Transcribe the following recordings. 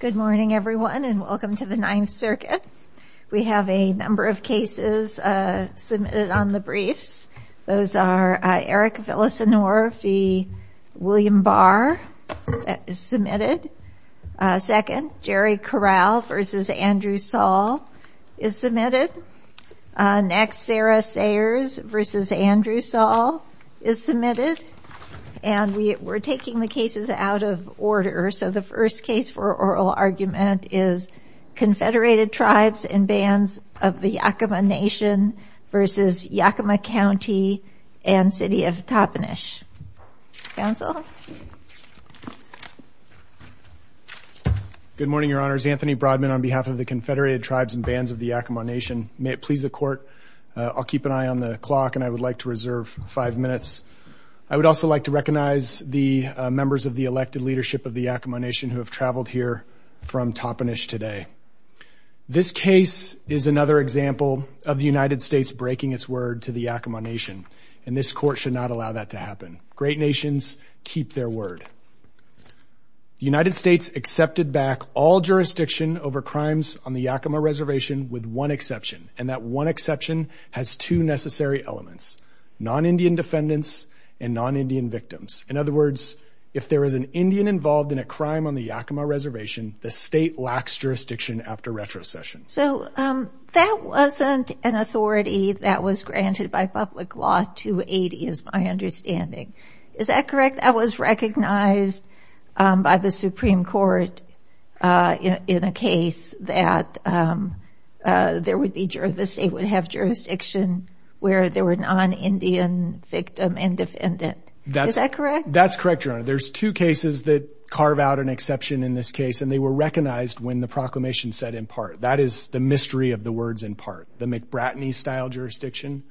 Good morning everyone and welcome to the Ninth Circuit. We have a number of cases submitted on the briefs. Those are Eric Villasenor v. William Barr is submitted. Second, Jerry Corral v. Andrew Saul is submitted. Next, Sarah Sayers v. Andrew Saul is submitted. And we're taking the cases out of order. So the first case for oral argument is Confederated Tribes and Bands of the Yakima Nation v. Yakima County and City of Toppenish. Counsel? Good morning, Your Honors. Anthony Broadman on behalf of the Confederated Tribes and Bands of the Yakima Nation. May it please the Court, I'll keep an eye on the clock and I would also like to recognize the members of the elected leadership of the Yakima Nation who have traveled here from Toppenish today. This case is another example of the United States breaking its word to the Yakima Nation and this Court should not allow that to happen. Great nations keep their word. The United States accepted back all jurisdiction over crimes on the Yakima Reservation with one exception and that one exception has two victims. In other words, if there is an Indian involved in a crime on the Yakima Reservation, the state lacks jurisdiction after retrocession. So that wasn't an authority that was granted by public law 280 is my understanding. Is that correct? That was recognized by the Supreme Court in a case that there would be jurisdiction where there were non-Indian victim and defendant. Is that correct? That's correct, Your Honor. There's two cases that carve out an exception in this case and they were recognized when the proclamation said in part. That is the mystery of the words in part. The McBratney style jurisdiction,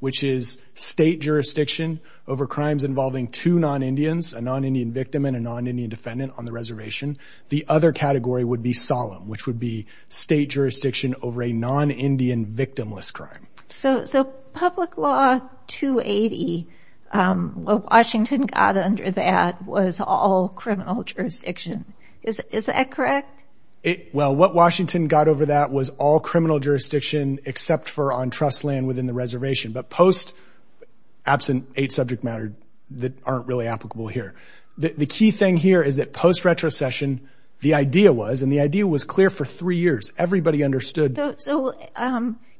which is state jurisdiction over crimes involving two non-Indians, a non-Indian victim and a non-Indian defendant on the reservation. The other category would be solemn, which would be state jurisdiction over a non-Indian victimless crime. So public law 280, what Washington got under that was all criminal jurisdiction. Is that correct? Well, what Washington got over that was all criminal jurisdiction except for on trust land within the reservation, but post absent eight subject matter that aren't really applicable here. The key thing here is that post retrocession, the idea was, and the idea was clear for three years. Everybody understood. So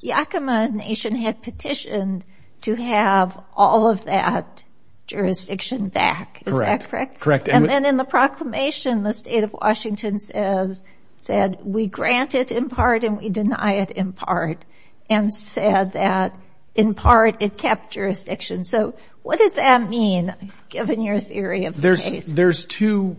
Yakima Nation had petitioned to have all of that jurisdiction back. Is that correct? Correct. And then in the proclamation, the state of Washington says, said we grant it in part and we deny it in part and said that in part it kept jurisdiction. So what does that mean given your theory of the case? There's two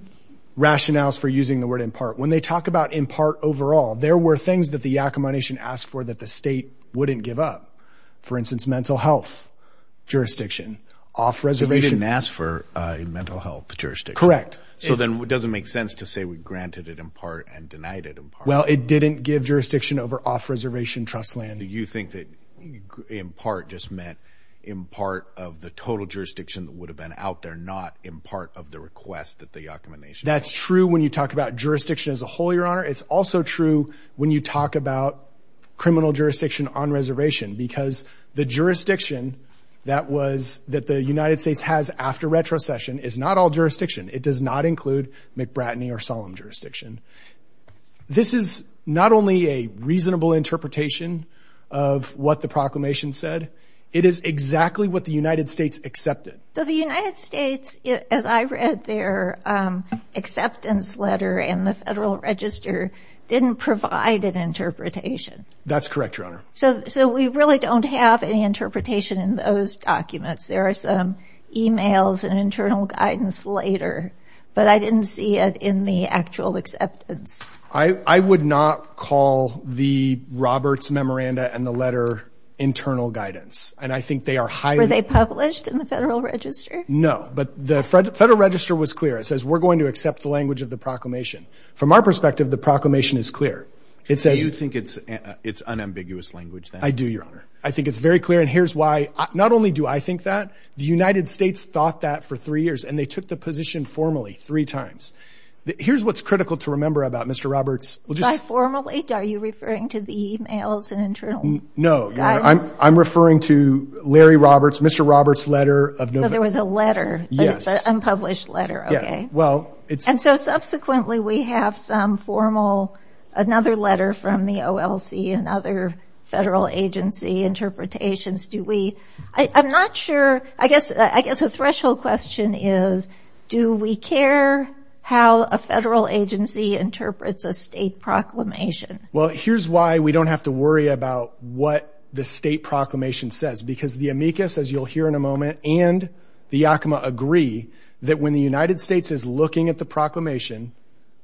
rationales for using the word in part. When they talk about in part overall, there were things that the Yakima Nation asked for that the state wouldn't give up. For instance, mental health jurisdiction off reservation. So they didn't ask for a mental health jurisdiction. Correct. So then it doesn't make sense to say we granted it in part and denied it in part. Well, it didn't give jurisdiction over off reservation trust land. Do you think that in part just meant in part of the total jurisdiction that would have been out there, not in part of the request that the Yakima Nation. That's true. When you talk about jurisdiction as a whole, your honor, it's also true when you talk about criminal jurisdiction on reservation, because the jurisdiction that was that the United States has after retrocession is not all jurisdiction. It does not include McBratney or solemn jurisdiction. This is not only a reasonable interpretation of what the proclamation said. It is exactly what the United States accepted. So the United States, as I read their acceptance letter in the Federal Register, didn't provide an interpretation. That's correct, your honor. So so we really don't have any interpretation in those documents. There are some emails and internal guidance later, but I didn't see it in the actual acceptance. I would not call the Roberts memoranda and the internal guidance. And I think they are highly published in the Federal Register. No, but the Federal Register was clear. It says we're going to accept the language of the proclamation. From our perspective, the proclamation is clear. It says you think it's it's unambiguous language. I do, your honor. I think it's very clear. And here's why. Not only do I think that the United States thought that for three years and they took the position formally three times. Here's what's critical to remember about Mr. Roberts. Well, just formally, are you referring to the emails and internal guidance? No, I'm referring to Larry Roberts, Mr. Roberts letter of November. There was a letter, unpublished letter. Well, it's and so subsequently we have some formal, another letter from the OLC and other federal agency interpretations. Do we, I'm not sure, I guess I guess a threshold question is do we care how a federal agency interprets a state proclamation? Well, here's why we don't have to worry about what the state proclamation says, because the amicus, as you'll hear in a moment and the Yakima agree that when the United States is looking at the proclamation,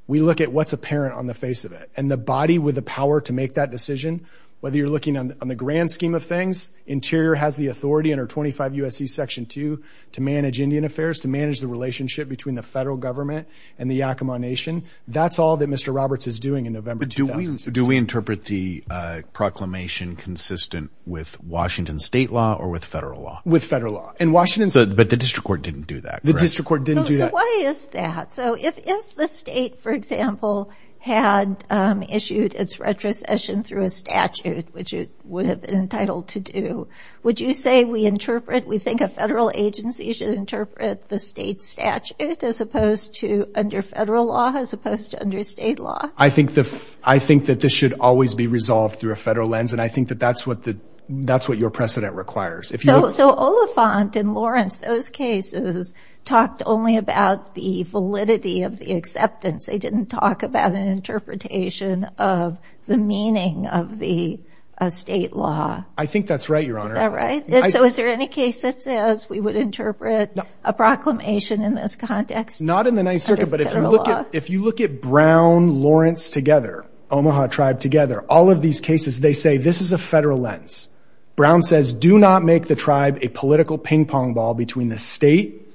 we look at what's apparent on the face of it and the body with the power to make that decision. Whether you're looking on the grand scheme of things, interior has the authority under 25 USC section two to manage Indian affairs, to manage the relationship between the federal government and the Yakima nation. That's all that Mr. Roberts is doing in November. Do we, do we interpret the proclamation consistent with Washington state law or with federal law with federal law in Washington? But the district court didn't do that. The district court didn't do that. Why is that? So if, if the state, for example, had issued its retrocession through a statute, which it would have been entitled to do, would you say we interpret, we think a federal agency should interpret the state statute as opposed to under federal law, as opposed to under state law? I think the, I think that this should always be resolved through a federal lens. And I think that that's what the, that's what your precedent requires. So Oliphant and Lawrence, those cases talked only about the validity of the acceptance. They didn't talk about an interpretation of the meaning of the state law. I think that's right, Your Honor. Is that right? So is there any case that says we would interpret a proclamation in this context? Not in the Ninth Circuit, but if you look at, if you look at Brown, Lawrence together, Omaha tribe together, all of these cases, they say, this is a federal lens. Brown says, do not make the tribe a political ping pong ball between the state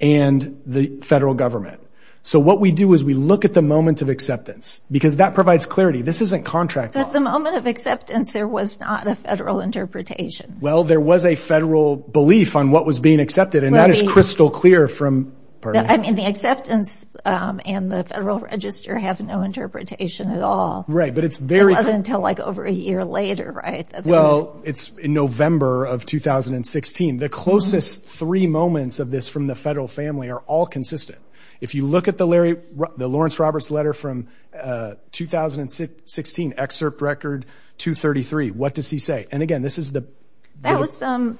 and the federal government. So what we do is we look at the moment of acceptance because that provides clarity. This isn't contract law. At the moment of acceptance, there was not a federal interpretation. Well, there was a federal belief on what was being accepted. And that is crystal clear from, pardon me. I mean, the acceptance and the federal register have no interpretation at all. Right, but it's very- It wasn't until like over a year later, right? Well, it's in November of 2016. The closest three moments of this from the federal family are all consistent. If you look at the Larry, the Lawrence Roberts letter from 2016, excerpt record 233, what does he say? And again, this is the- That was some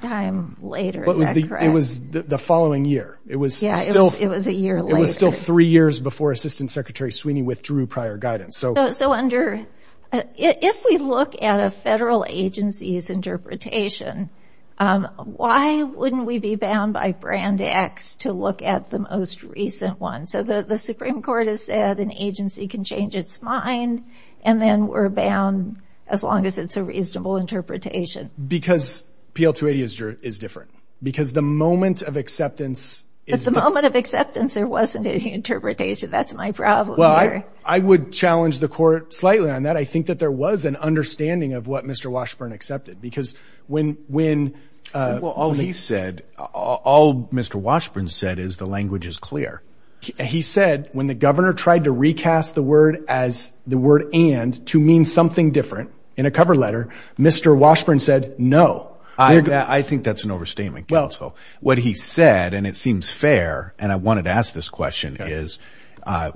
time later, is that correct? It was the following year. It was still- Yeah, it was a year later. It was still three years before Assistant Secretary Sweeney withdrew prior guidance. If we look at a federal agency's interpretation, why wouldn't we be bound by brand X to look at the most recent one? So the Supreme Court has said an agency can change its mind and then we're bound as long as it's a reasonable interpretation. Because PL280 is different. Because the moment of acceptance is- The moment of acceptance, there wasn't any interpretation. That's my problem here. Well, I would challenge the court slightly on that. I think that there was an understanding of what Mr. Washburn accepted because when- Well, all he said, all Mr. Washburn said is the language is clear. He said when the governor tried to recast the word as the word and to mean something different in a cover letter, Mr. Washburn said no. I think that's an overstatement, counsel. What he said, and it seems fair, and I wanted to ask this question, is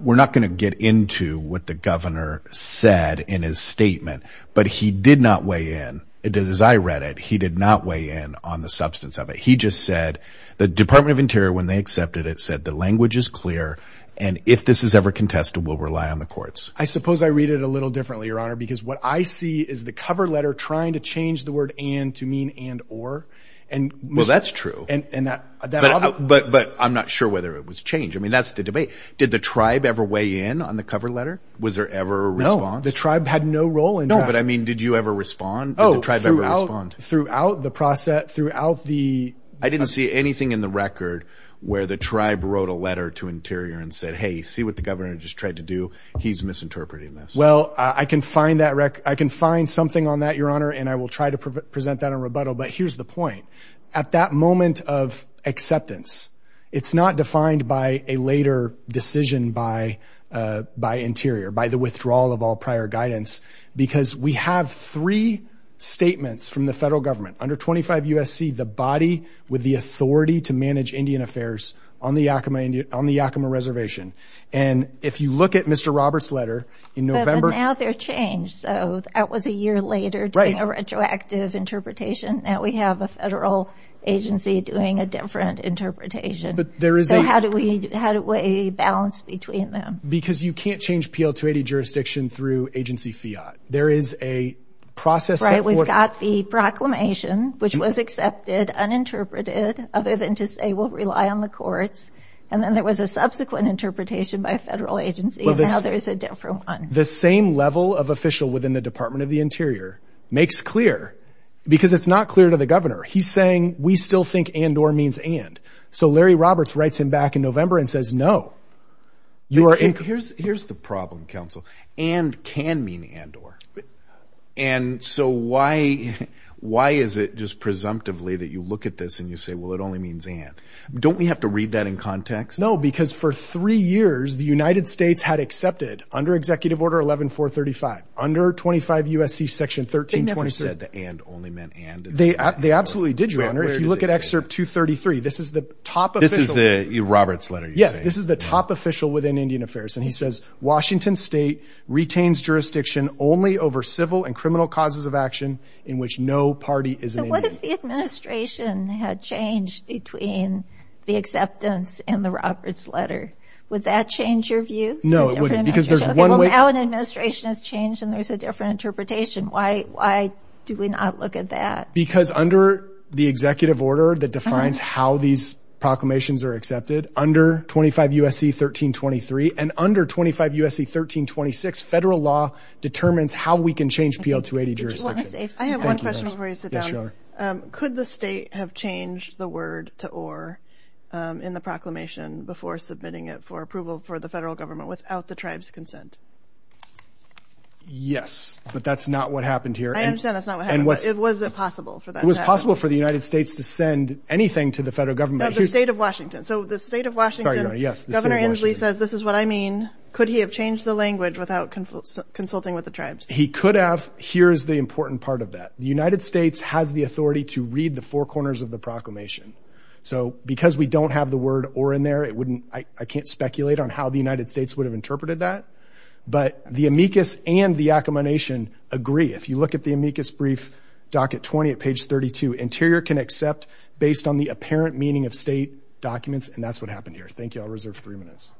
we're not going to get into what the governor said in his statement, but he did not weigh in. As I read it, he did not weigh in on the substance of it. He just said the Department of Interior, when they accepted it, said the language is clear and if this is ever contested, we'll rely on the courts. I suppose I read it a little differently, Your Honor, because what I see is the cover letter trying to change the word and to mean and or and- Well, that's true. But I'm not sure whether it was changed. I mean, that's the debate. Did the tribe ever weigh in on the cover letter? Was there ever a response? No, the tribe had no role in that. No, but I mean, did you ever respond? Did the tribe ever respond? Throughout the process, throughout the- I didn't see anything in the record where the tribe wrote a letter to Interior and said, hey, see what the governor just tried to do? He's misinterpreting this. Well, I can find that record. I can find something on that, Your Honor, and I will try to present that in rebuttal. But here's the point. At that moment of acceptance, it's not defined by a later decision by Interior, by the withdrawal of all prior guidance, because we have three statements from the federal government under 25 U.S.C., the body with the authority to manage Indian affairs on the Yakima Reservation. And if you look at Mr. Roberts' letter in November- But now they're changed. So that was a year later doing a retroactive interpretation. Now we have a federal agency doing a different interpretation. But there is a- So how do we balance between them? Because you can't change PL-280 jurisdiction through agency fiat. There is a process- We've got the proclamation, which was accepted, uninterpreted, other than to say we'll rely on the courts. And then there was a subsequent interpretation by a federal agency, and now there's a different one. The same level of official within the Department of the Interior makes clear, because it's not clear to the governor. He's saying, we still think and or means and. So Larry Roberts writes him back in November and says, no. Here's the problem, counsel. And can mean and or. And so why is it just presumptively that you look at this and you say, well, it only means and? Don't we have to read that in context? No, because for three years, the United States had accepted under Executive Order 11-435, under 25 U.S.C. Section 13-23- They never said that and only meant and. They absolutely did, Your Honor. If you look at Excerpt 233, this is the top official- This is the Roberts' letter, you say? Yes, this is the top official within Indian Affairs. And he says, Washington State retains jurisdiction only over civil and criminal causes of action in which no party is an Indian. So what if the administration had changed between the acceptance and the Roberts' letter? Would that change your view? No, it wouldn't, because there's one way- Well, now an administration has changed and there's a different interpretation. Why do we not look at that? Because under the Executive Order that defines how these proclamations are accepted, under 25 U.S.C. 13-23, and under 25 U.S.C. 13-26, federal law determines how we can change PL-280 jurisdiction. I have one question before you sit down. Could the state have changed the word to or in the proclamation before submitting it for approval for the federal government without the tribe's consent? Yes, but that's not what happened here. I understand that's not what happened, but was it possible for that matter? It was possible for the United States to send anything to the federal government. The state of Washington. So the state of Washington, Governor Inslee says, this is what I mean. Could he have changed the language without consulting with the tribes? He could have. Here's the important part of that. The United States has the authority to read the four corners of the proclamation. So because we don't have the word or in there, it wouldn't- I can't speculate on how the United States would have interpreted that. But the amicus and the accommodation agree. If you look at the amicus brief, docket 20 at page 32, interior can accept based on the apparent meaning of state documents. And that's what happened here. Thank you. I'll reserve three minutes.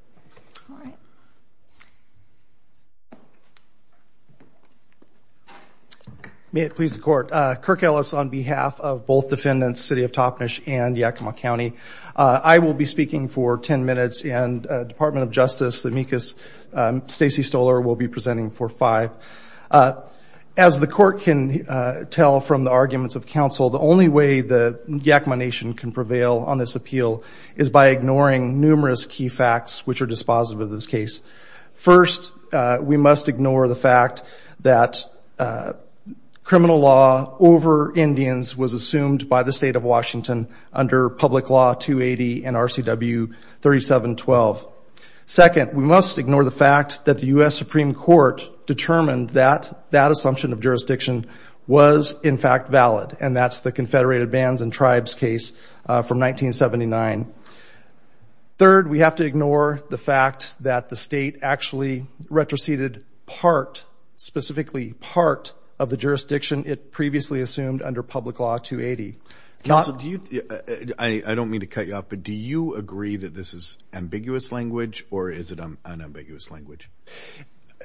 May it please the court. Kirk Ellis on behalf of both defendants, City of Toppenish and Yakima County. I will be speaking for 10 minutes and Department of Justice, the amicus Stacey Stoller will be presenting for five. As the court can tell from the arguments of counsel, the Yakima nation can prevail on this appeal is by ignoring numerous key facts which are dispositive of this case. First, we must ignore the fact that criminal law over Indians was assumed by the state of Washington under Public Law 280 and RCW 3712. Second, we must ignore the fact that the U.S. Supreme Court determined that that assumption of jurisdiction was in fact valid. And that's the Confederated Bands and Tribes case from 1979. Third, we have to ignore the fact that the state actually retroceded part, specifically part of the jurisdiction. It previously assumed under Public Law 280. I don't mean to cut you off, but do you agree that this is ambiguous language or is it an ambiguous language?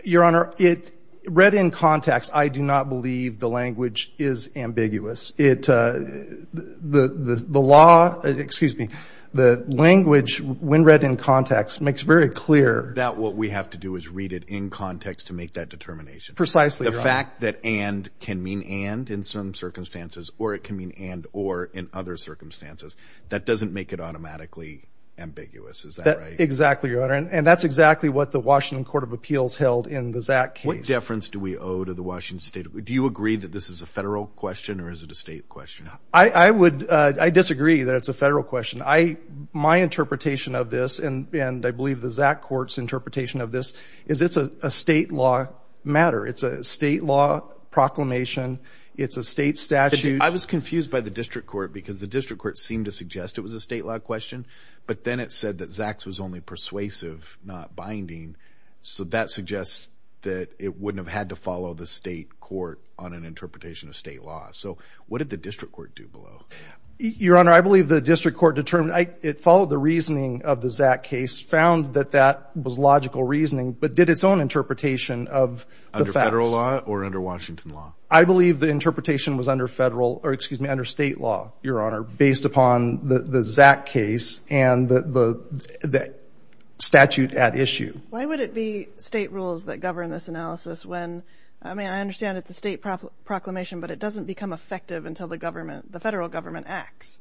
Your Honor, it read in context. I do not believe the language is ambiguous. It, the law, excuse me, the language when read in context makes very clear. That what we have to do is read it in context to make that determination. Precisely. The fact that and can mean and in some circumstances, or it can mean and or in other circumstances, that doesn't make it automatically ambiguous. Is that right? Exactly, Your Honor. And that's exactly what the Washington Court of Appeals held in the Zach case. What deference do we owe to the Washington State? Do you agree that this is a federal question or is it a state question? I would, I disagree that it's a federal question. My interpretation of this, and I believe the Zach Court's interpretation of this, is it's a state law matter. It's a state law proclamation. It's a state statute. I was confused by the district court because the district court seemed to suggest it was a state law question. But then it said that Zach's was only persuasive, not binding. So that suggests that it wouldn't have had to follow the state court on an interpretation of state law. So what did the district court do below? Your Honor, I believe the district court determined, it followed the reasoning of the Zach case, found that that was logical reasoning, but did its own interpretation of the facts. Under federal law or under Washington law? I believe the interpretation was under federal, or excuse me, under state law, Your Honor, based upon the Zach case and the statute at issue. Why would it be state rules that govern this analysis when, I mean, I understand it's a state proclamation, but it doesn't become effective until the government, the federal government acts.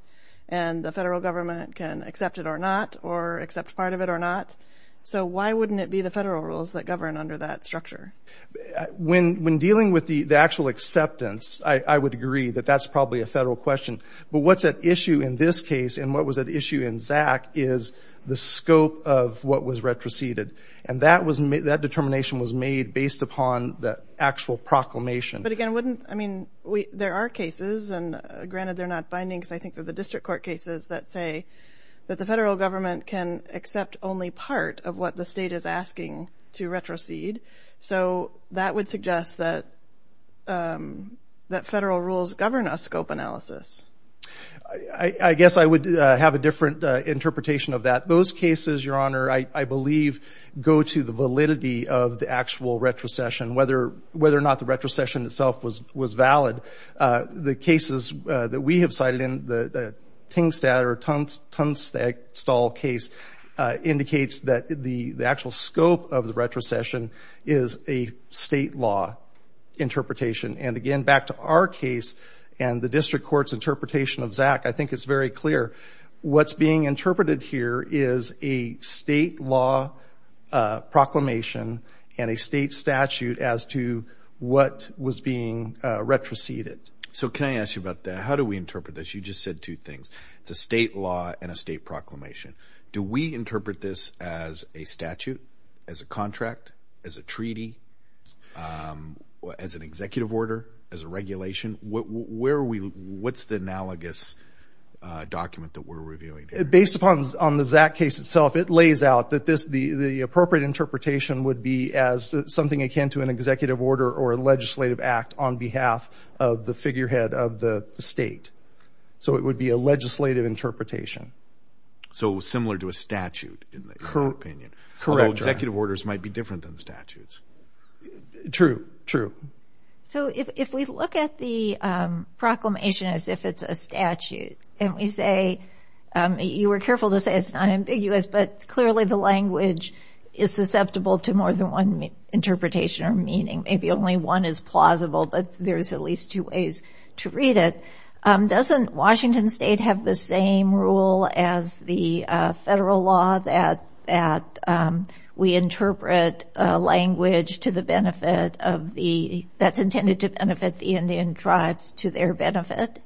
And the federal government can accept it or not or accept part of it or not. So why wouldn't it be the federal rules that govern under that structure? When dealing with the actual acceptance, I would agree that that's probably a federal question. What's at issue in this case and what was at issue in Zach is the scope of what was retroceded. And that determination was made based upon the actual proclamation. But again, wouldn't, I mean, there are cases, and granted they're not bindings, I think that the district court cases that say that the federal government can accept only part of what the state is asking to retrocede. So that would suggest that federal rules govern a scope analysis. I guess I would have a different interpretation of that. Those cases, Your Honor, I believe go to the validity of the actual retrocession, whether or not the retrocession itself was valid. The cases that we have cited in the Tingstadt or Tunstall case indicates that the actual scope of the retrocession is a state law interpretation. And again, back to our case and the district court's interpretation of Zach, I think it's very clear. What's being interpreted here is a state law proclamation and a state statute as to what was being retroceded. So can I ask you about that? How do we interpret this? You just said two things. It's a state law and a state proclamation. Do we interpret this as a statute, as a contract, as a treaty, as an executive order, as a regulation? What's the analogous document that we're reviewing here? Based upon the Zach case itself, it lays out that the appropriate interpretation would be as something akin to an executive order or a legislative act on behalf of the figurehead of the state. So it would be a legislative interpretation. So similar to a statute, in your opinion. Correct, Your Honor. Although executive orders might be different than statutes. True, true. So if we look at the proclamation as if it's a statute, and we say, you were careful to say it's not ambiguous, but clearly the language is susceptible to more than one interpretation or meaning. Maybe only one is plausible, but there's at least two ways to read it. Doesn't Washington state have the same rule as the federal law that we interpret language that's intended to benefit the Indian tribes to their benefit?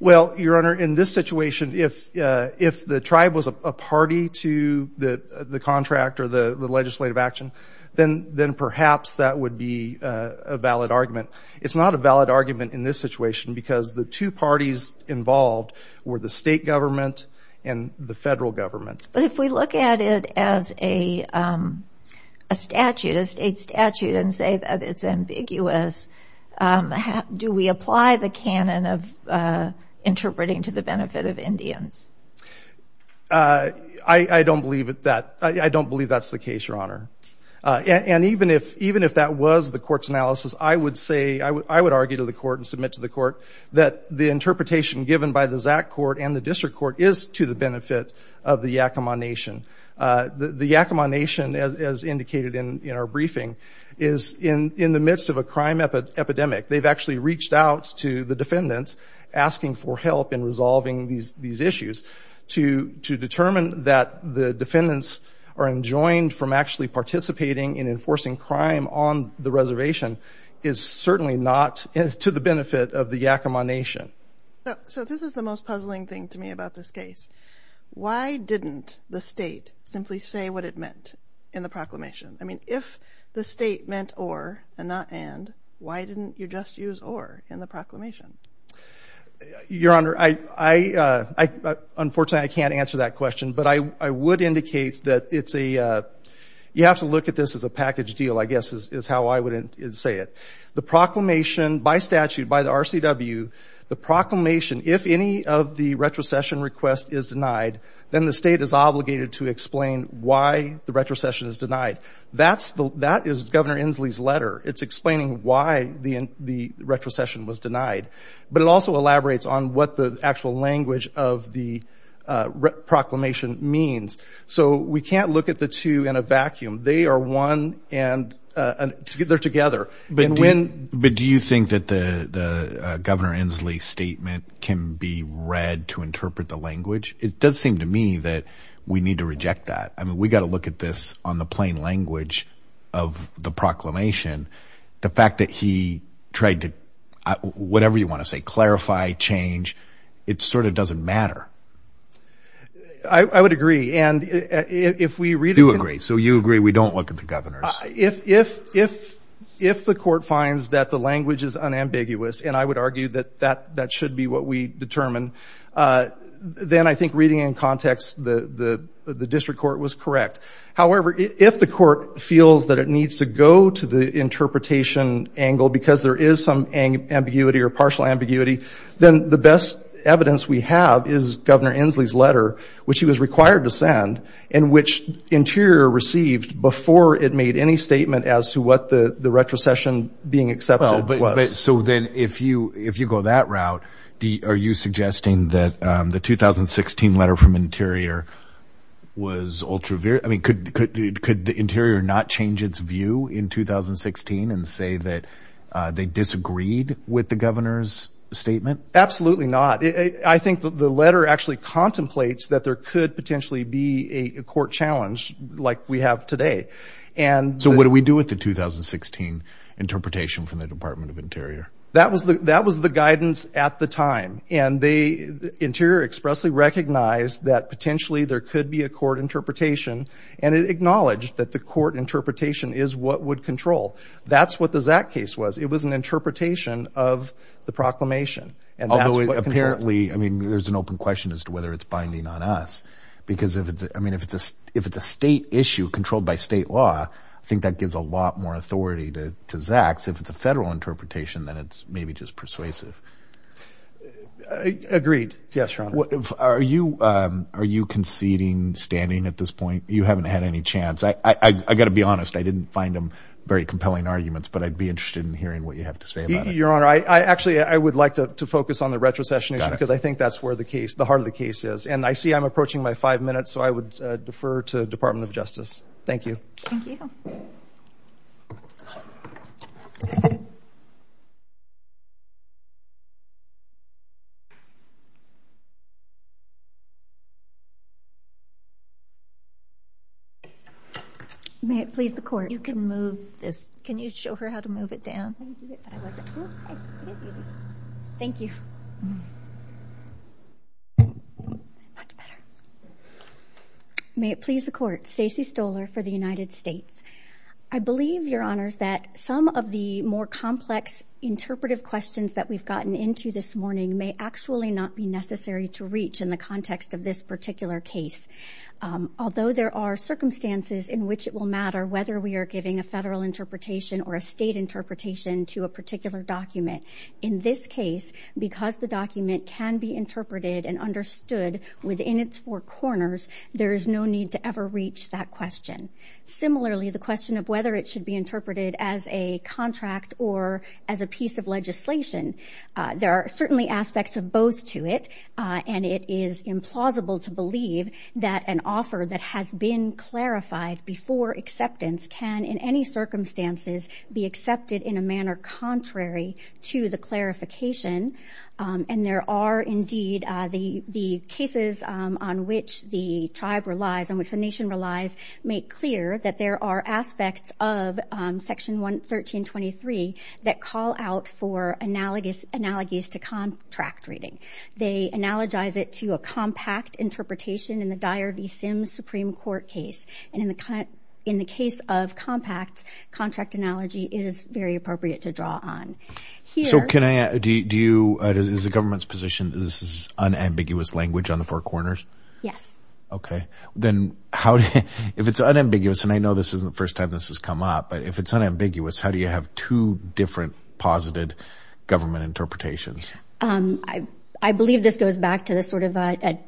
Well, Your Honor, in this situation, if the tribe was a party to the contract or the legislative action, then perhaps that would be a valid argument. It's not a valid argument in this situation because the two parties involved were the state government and the federal government. But if we look at it as a statute, a state statute, and say that it's ambiguous, do we apply the canon of interpreting to the benefit of Indians? I don't believe that's the case, Your Honor. And even if that was the court's analysis, I would say, I would argue to the court and submit to the court that the interpretation given by the Zach court and the district court is to the benefit of the Yakama Nation. The Yakama Nation, as indicated in our briefing, is in the midst of a crime epidemic. They've actually reached out to the defendants asking for help in resolving these issues. To determine that the defendants are enjoined from actually participating in enforcing crime on the reservation is certainly not to the benefit of the Yakama Nation. So this is the most puzzling thing to me about this case. Why didn't the state simply say what it meant in the proclamation? I mean, if the state meant or and not and, why didn't you just use or in the proclamation? Your Honor, unfortunately, I can't answer that question. But I would indicate that it's a, you have to look at this as a package deal, I guess, is how I would say it. The proclamation by statute, by the RCW, the proclamation, if any of the retrocession request is denied, then the state is obligated to explain why the retrocession is denied. That's the, that is Governor Inslee's letter. It's explaining why the retrocession was denied. But it also elaborates on what the actual language of the proclamation means. So we can't look at the two in a vacuum. They are one and they're together. But do you think that the Governor Inslee's statement can be read to interpret the language? It does seem to me that we need to reject that. I mean, we got to look at this on the plain language of the proclamation. The fact that he tried to, whatever you want to say, clarify, change, it sort of doesn't matter. I would agree. And if we read... You agree. So you agree we don't look at the Governor's? If the court finds that the language is unambiguous, and I would argue that that should be what we determine, then I think reading in context, the district court was correct. However, if the court feels that it needs to go to the interpretation angle because there is some ambiguity or partial ambiguity, then the best evidence we have is Governor Inslee's letter, which he was required to send, and which Interior received before it made any statement as to what the retrocession being accepted was. So then if you go that route, are you suggesting that the 2016 letter from Interior was ultra... I mean, could the Interior not change its view in 2016 and say that they disagreed with the Governor's statement? Absolutely not. I think the letter actually contemplates that there could potentially be a court challenge like we have today. So what do we do with the 2016 interpretation from the Department of Interior? That was the guidance at the time. And the Interior expressly recognized that potentially there could be a court interpretation, and it acknowledged that the court interpretation is what would control. It was an interpretation of the proclamation. Although apparently, I mean, there's an open question as to whether it's binding on us, because if it's a state issue controlled by state law, I think that gives a lot more authority to Zaks. If it's a federal interpretation, then it's maybe just persuasive. Agreed. Yes, Your Honor. Are you conceding standing at this point? You haven't had any chance. I got to be honest. I didn't find them very compelling arguments, but I'd be interested in hearing what you have to say about it. Your Honor, I actually, I would like to focus on the retrocession issue, because I think that's where the case, the heart of the case is. And I see I'm approaching my five minutes, so I would defer to the Department of Justice. Thank you. Thank you. May it please the court, you can move this. Can you show her how to move it down? Thank you. Much better. May it please the court, Stacey Stoler for the United States. I believe, Your Honors, that some of the more complex interpretive questions that we've gotten into this morning may actually not be necessary to reach in the context of this particular case. Although there are circumstances in which it will matter whether we are giving a federal interpretation or a state interpretation to a particular document, in this case, because the document can be interpreted and understood within its four corners, there is no need to ever reach that question. Similarly, the question of whether it should be interpreted as a contract or as a piece of legislation, there are certainly aspects of both to it. And it is implausible to believe that an offer that has been clarified before acceptance can, in any circumstances, be accepted in a manner contrary to the clarification. And there are indeed the cases on which the tribe relies, on which the nation relies, make clear that there are aspects of Section 1323 that call out for analogies to contract reading. They analogize it to a compact interpretation in the Dyer v. Sims Supreme Court case. And in the case of compact, contract analogy is very appropriate to draw on. So can I ask, is the government's position that this is unambiguous language on the four corners? Yes. Okay. Then if it's unambiguous, and I know this isn't the first time this has come up, but if it's unambiguous, how do you have two different positive government interpretations? I believe this goes back to the sort of a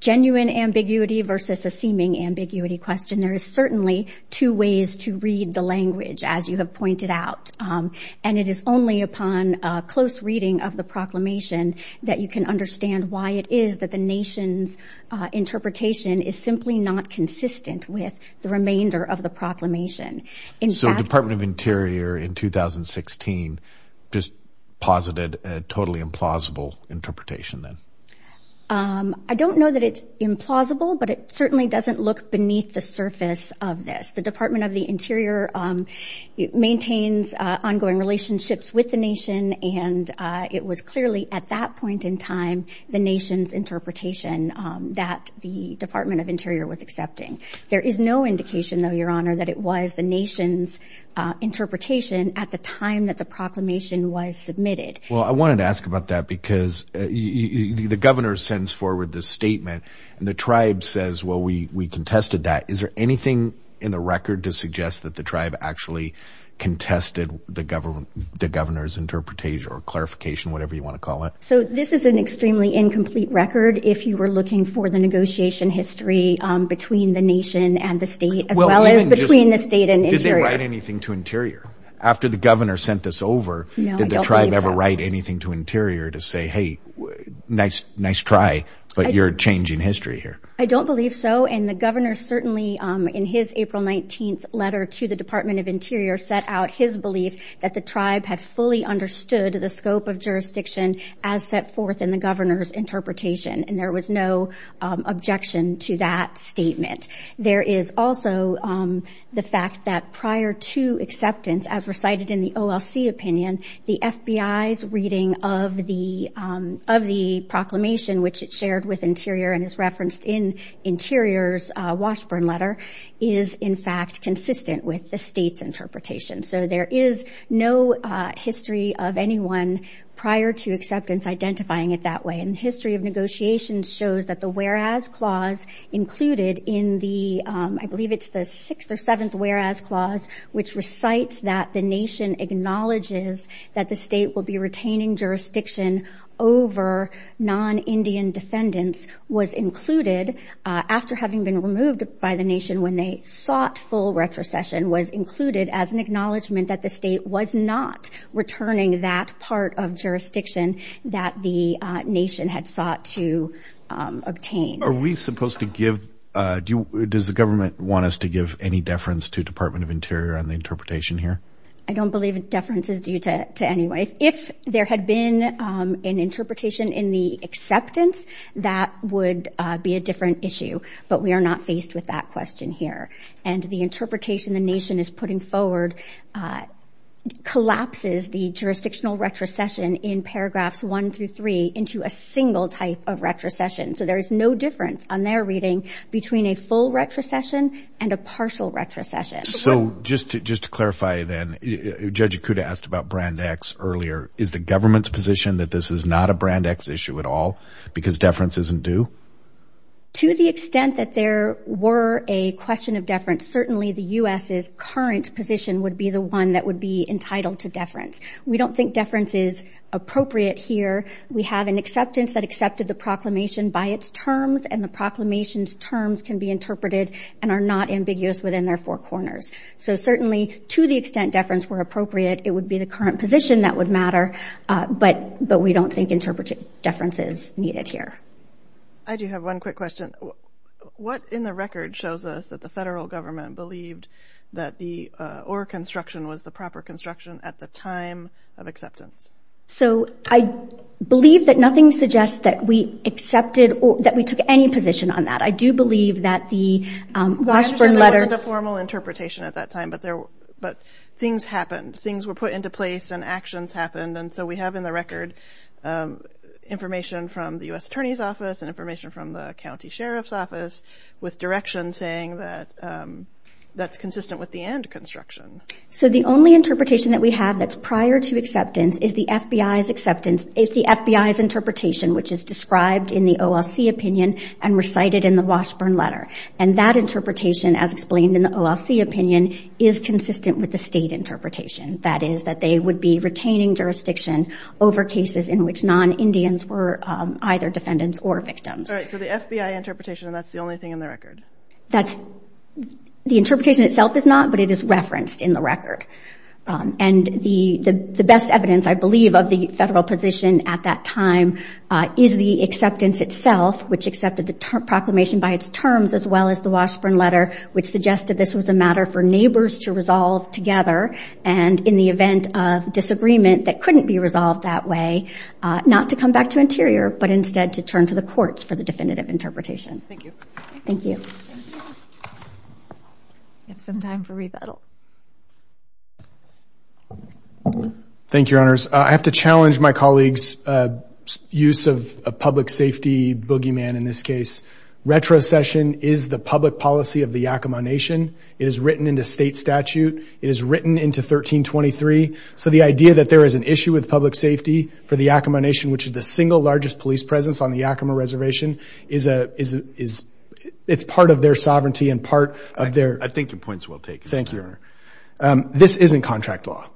genuine ambiguity versus a seeming ambiguity question. There is certainly two ways to read the language, as you have pointed out. And it is only upon close reading of the proclamation that you can understand why it is that the nation's interpretation is simply not consistent with the remainder of the proclamation. So the Department of Interior in 2016 just posited a totally implausible interpretation then? I don't know that it's implausible, but it certainly doesn't look beneath the surface of this. The Department of the Interior maintains ongoing relationships with the nation, and it was clearly at that point in time the nation's interpretation that the Department of Interior was accepting. There is no indication though, Your Honor, that it was the nation's interpretation at the time that the proclamation was submitted. Well, I wanted to ask about that because the governor sends forward this statement, and the tribe says, well, we contested that. Is there anything in the record to suggest that the tribe actually contested the governor's interpretation or clarification, whatever you want to call it? So this is an extremely incomplete record. If you were looking for the negotiation history between the nation and the state as well as between the state and Interior. Did they write anything to Interior? After the governor sent this over, did the tribe ever write anything to Interior to say, hey, nice try, but you're changing history here? I don't believe so, and the governor certainly in his April 19th letter to the Department of Interior set out his belief that the tribe had fully understood the scope of jurisdiction as set forth in the governor's interpretation, and there was no objection to that statement. There is also the fact that prior to acceptance, as recited in the OLC opinion, the FBI's reading of the proclamation, which it shared with Interior and is referenced in Interior's Washburn letter, is in fact consistent with the state's interpretation. So there is no history of anyone prior to acceptance identifying it that way, and the history of negotiations shows that the whereas clause included in the, I believe it's the sixth or seventh whereas clause, which recites that the nation acknowledges that the state will be retaining jurisdiction over non-Indian defendants, was included after having been acknowledged that the state was not returning that part of jurisdiction that the nation had sought to obtain. Are we supposed to give, does the government want us to give any deference to Department of Interior on the interpretation here? I don't believe deference is due to anyone. If there had been an interpretation in the acceptance, that would be a different issue, but we are not faced with that question here, and the interpretation the nation is putting forward collapses the jurisdictional retrocession in paragraphs one through three into a single type of retrocession, so there is no difference on their reading between a full retrocession and a partial retrocession. So just to clarify then, Judge Ikuda asked about Brand X earlier. Is the government's position that this is not a Brand X issue at all because deference isn't due? To the extent that there were a question of deference, certainly the U.S.'s current position would be the one that would be entitled to deference. We don't think deference is appropriate here. We have an acceptance that accepted the proclamation by its terms, and the proclamation's terms can be interpreted and are not ambiguous within their four corners. So certainly to the extent deference were appropriate, it would be the current position that would matter, but we don't think interpretive deference is needed here. I do have one quick question. What in the record shows us that the federal government believed that the ore construction was the proper construction at the time of acceptance? So I believe that nothing suggests that we accepted or that we took any position on that. I do believe that the Washburn letter... I understand there wasn't a formal interpretation at that time, but things happened. Things were put into place and actions happened, and so we have in the record information from the U.S. attorney's office and information from the county sheriff's office with direction saying that that's consistent with the and construction. So the only interpretation that we have that's prior to acceptance is the FBI's acceptance... is the FBI's interpretation, which is described in the OLC opinion and recited in the Washburn letter, and that interpretation, as explained in the OLC opinion, is consistent with the state interpretation. That is that they would be retaining jurisdiction over cases in which non-Indians were either defendants or victims. All right, so the FBI interpretation, and that's the only thing in the record? That's... the interpretation itself is not, but it is referenced in the record. And the best evidence, I believe, of the federal position at that time is the acceptance itself, which accepted the proclamation by its terms, as well as the Washburn letter, which suggested this was a matter for neighbors to resolve together, and in the event of disagreement that couldn't be resolved that way, not to come back to Interior, but instead to turn to the courts for the definitive interpretation. Thank you. Thank you. We have some time for rebuttal. Thank you, Your Honors. I have to challenge my colleague's use of a public safety boogeyman in this case. Retrocession is the public policy of the Yakima Nation. It is written into state statute. It is written into 1323. So the idea that there is an issue with public safety for the Yakima Nation, which is the single largest police presence on the Yakima Reservation, is a... it's part of their sovereignty and part of their... I think your point's well taken. Thank you, Your Honor. This isn't contract law.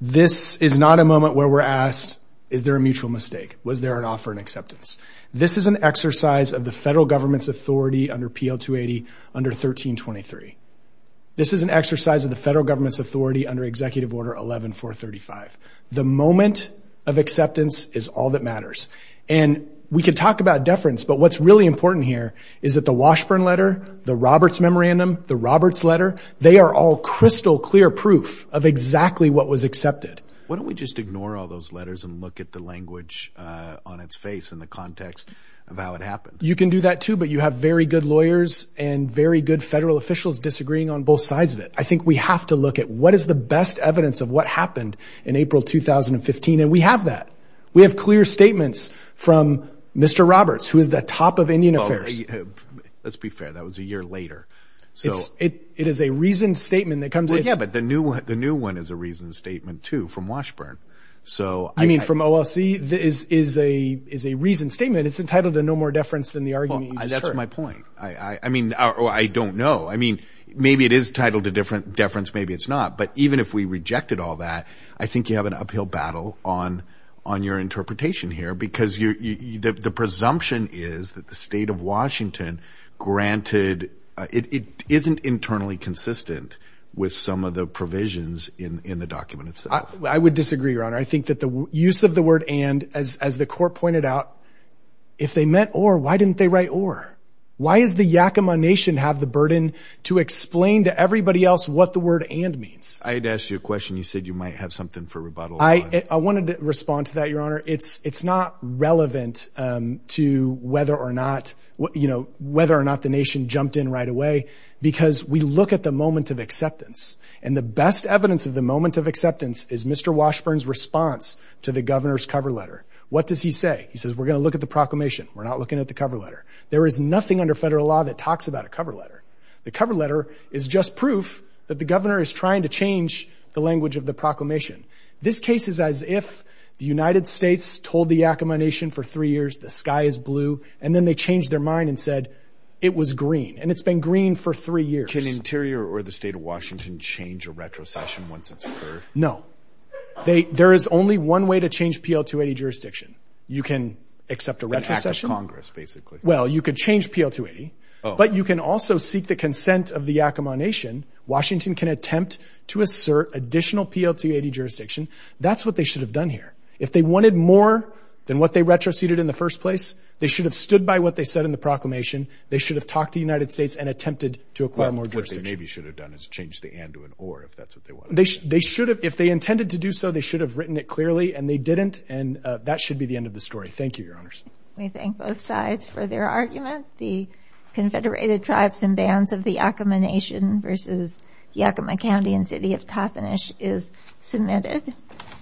This is not a moment where we're asked, is there a mutual mistake? Was there an offer and acceptance? This is an exercise of the federal government's authority under PL-280 under 1323. This is an exercise of the federal government's authority under Executive Order 11-435. The moment of acceptance is all that matters. And we can talk about deference, but what's really important here is that the Washburn letter, the Roberts memorandum, the Roberts letter, they are all crystal clear proof of exactly what was accepted. Why don't we just ignore all those letters and look at the language on its face in the context of how it happened? You can do that too, but you have very good lawyers and very good federal officials disagreeing on both sides of it. I think we have to look at what is the best evidence of what happened in April, 2015. And we have that. We have clear statements from Mr. Roberts, who is the top of Indian Affairs. Let's be fair. That was a year later. It is a reasoned statement that comes with... Yeah, but the new one is a reasoned statement too from Washburn. You mean from OLC? It's a reasoned statement. It's entitled to no more deference than the argument you just heard. That's my point. I don't know. Maybe it is titled to deference, maybe it's not. But even if we rejected all that, I think you have an uphill battle on your interpretation here because the presumption is that the state of Washington granted... It isn't internally consistent with some of the provisions in the document itself. I would disagree, Your Honor. I think that the use of the word and, as the court pointed out, if they meant or, why didn't they write or? Why does the Yakima nation have the burden to explain to everybody else what the word and means? I had to ask you a question. You said you might have something for rebuttal on. I wanted to respond to that, Your Honor. It's not relevant to whether or not the nation jumped in right away because we look at the moment of acceptance. And the best evidence of the moment of acceptance is Mr. Washburn's response to the governor's cover letter. What does he say? He says, we're going to look at the proclamation. We're not looking at the cover letter. There is nothing under federal law that talks about a cover letter. The cover letter is just proof that the governor is trying to change the language of the proclamation. This case is as if the United States told the Yakima nation for three years, the sky is blue, and then they changed their mind and said it was green. And it's been green for three years. Can Interior or the state of Washington change a retrocession once it's occurred? No. There is only one way to change PL280 jurisdiction. You can accept a retrocession. An act of Congress, basically. Well, you could change PL280, but you can also seek the consent of the Yakima nation. Washington can attempt to assert additional PL280 jurisdiction. That's what they should have done here. If they wanted more than what they retroceded in the first place, they should have stood by what they said in the proclamation. They should have talked to the United States and attempted to acquire more jurisdiction. What they maybe should have done is changed the and to an or, if that's what they wanted. They should have. If they intended to do so, they should have written it clearly, and they didn't. And that should be the end of the story. Thank you, Your Honors. We thank both sides for their argument. The Confederated Tribes and Bands of the Yakima Nation versus Yakima County and City of Toppenish is submitted.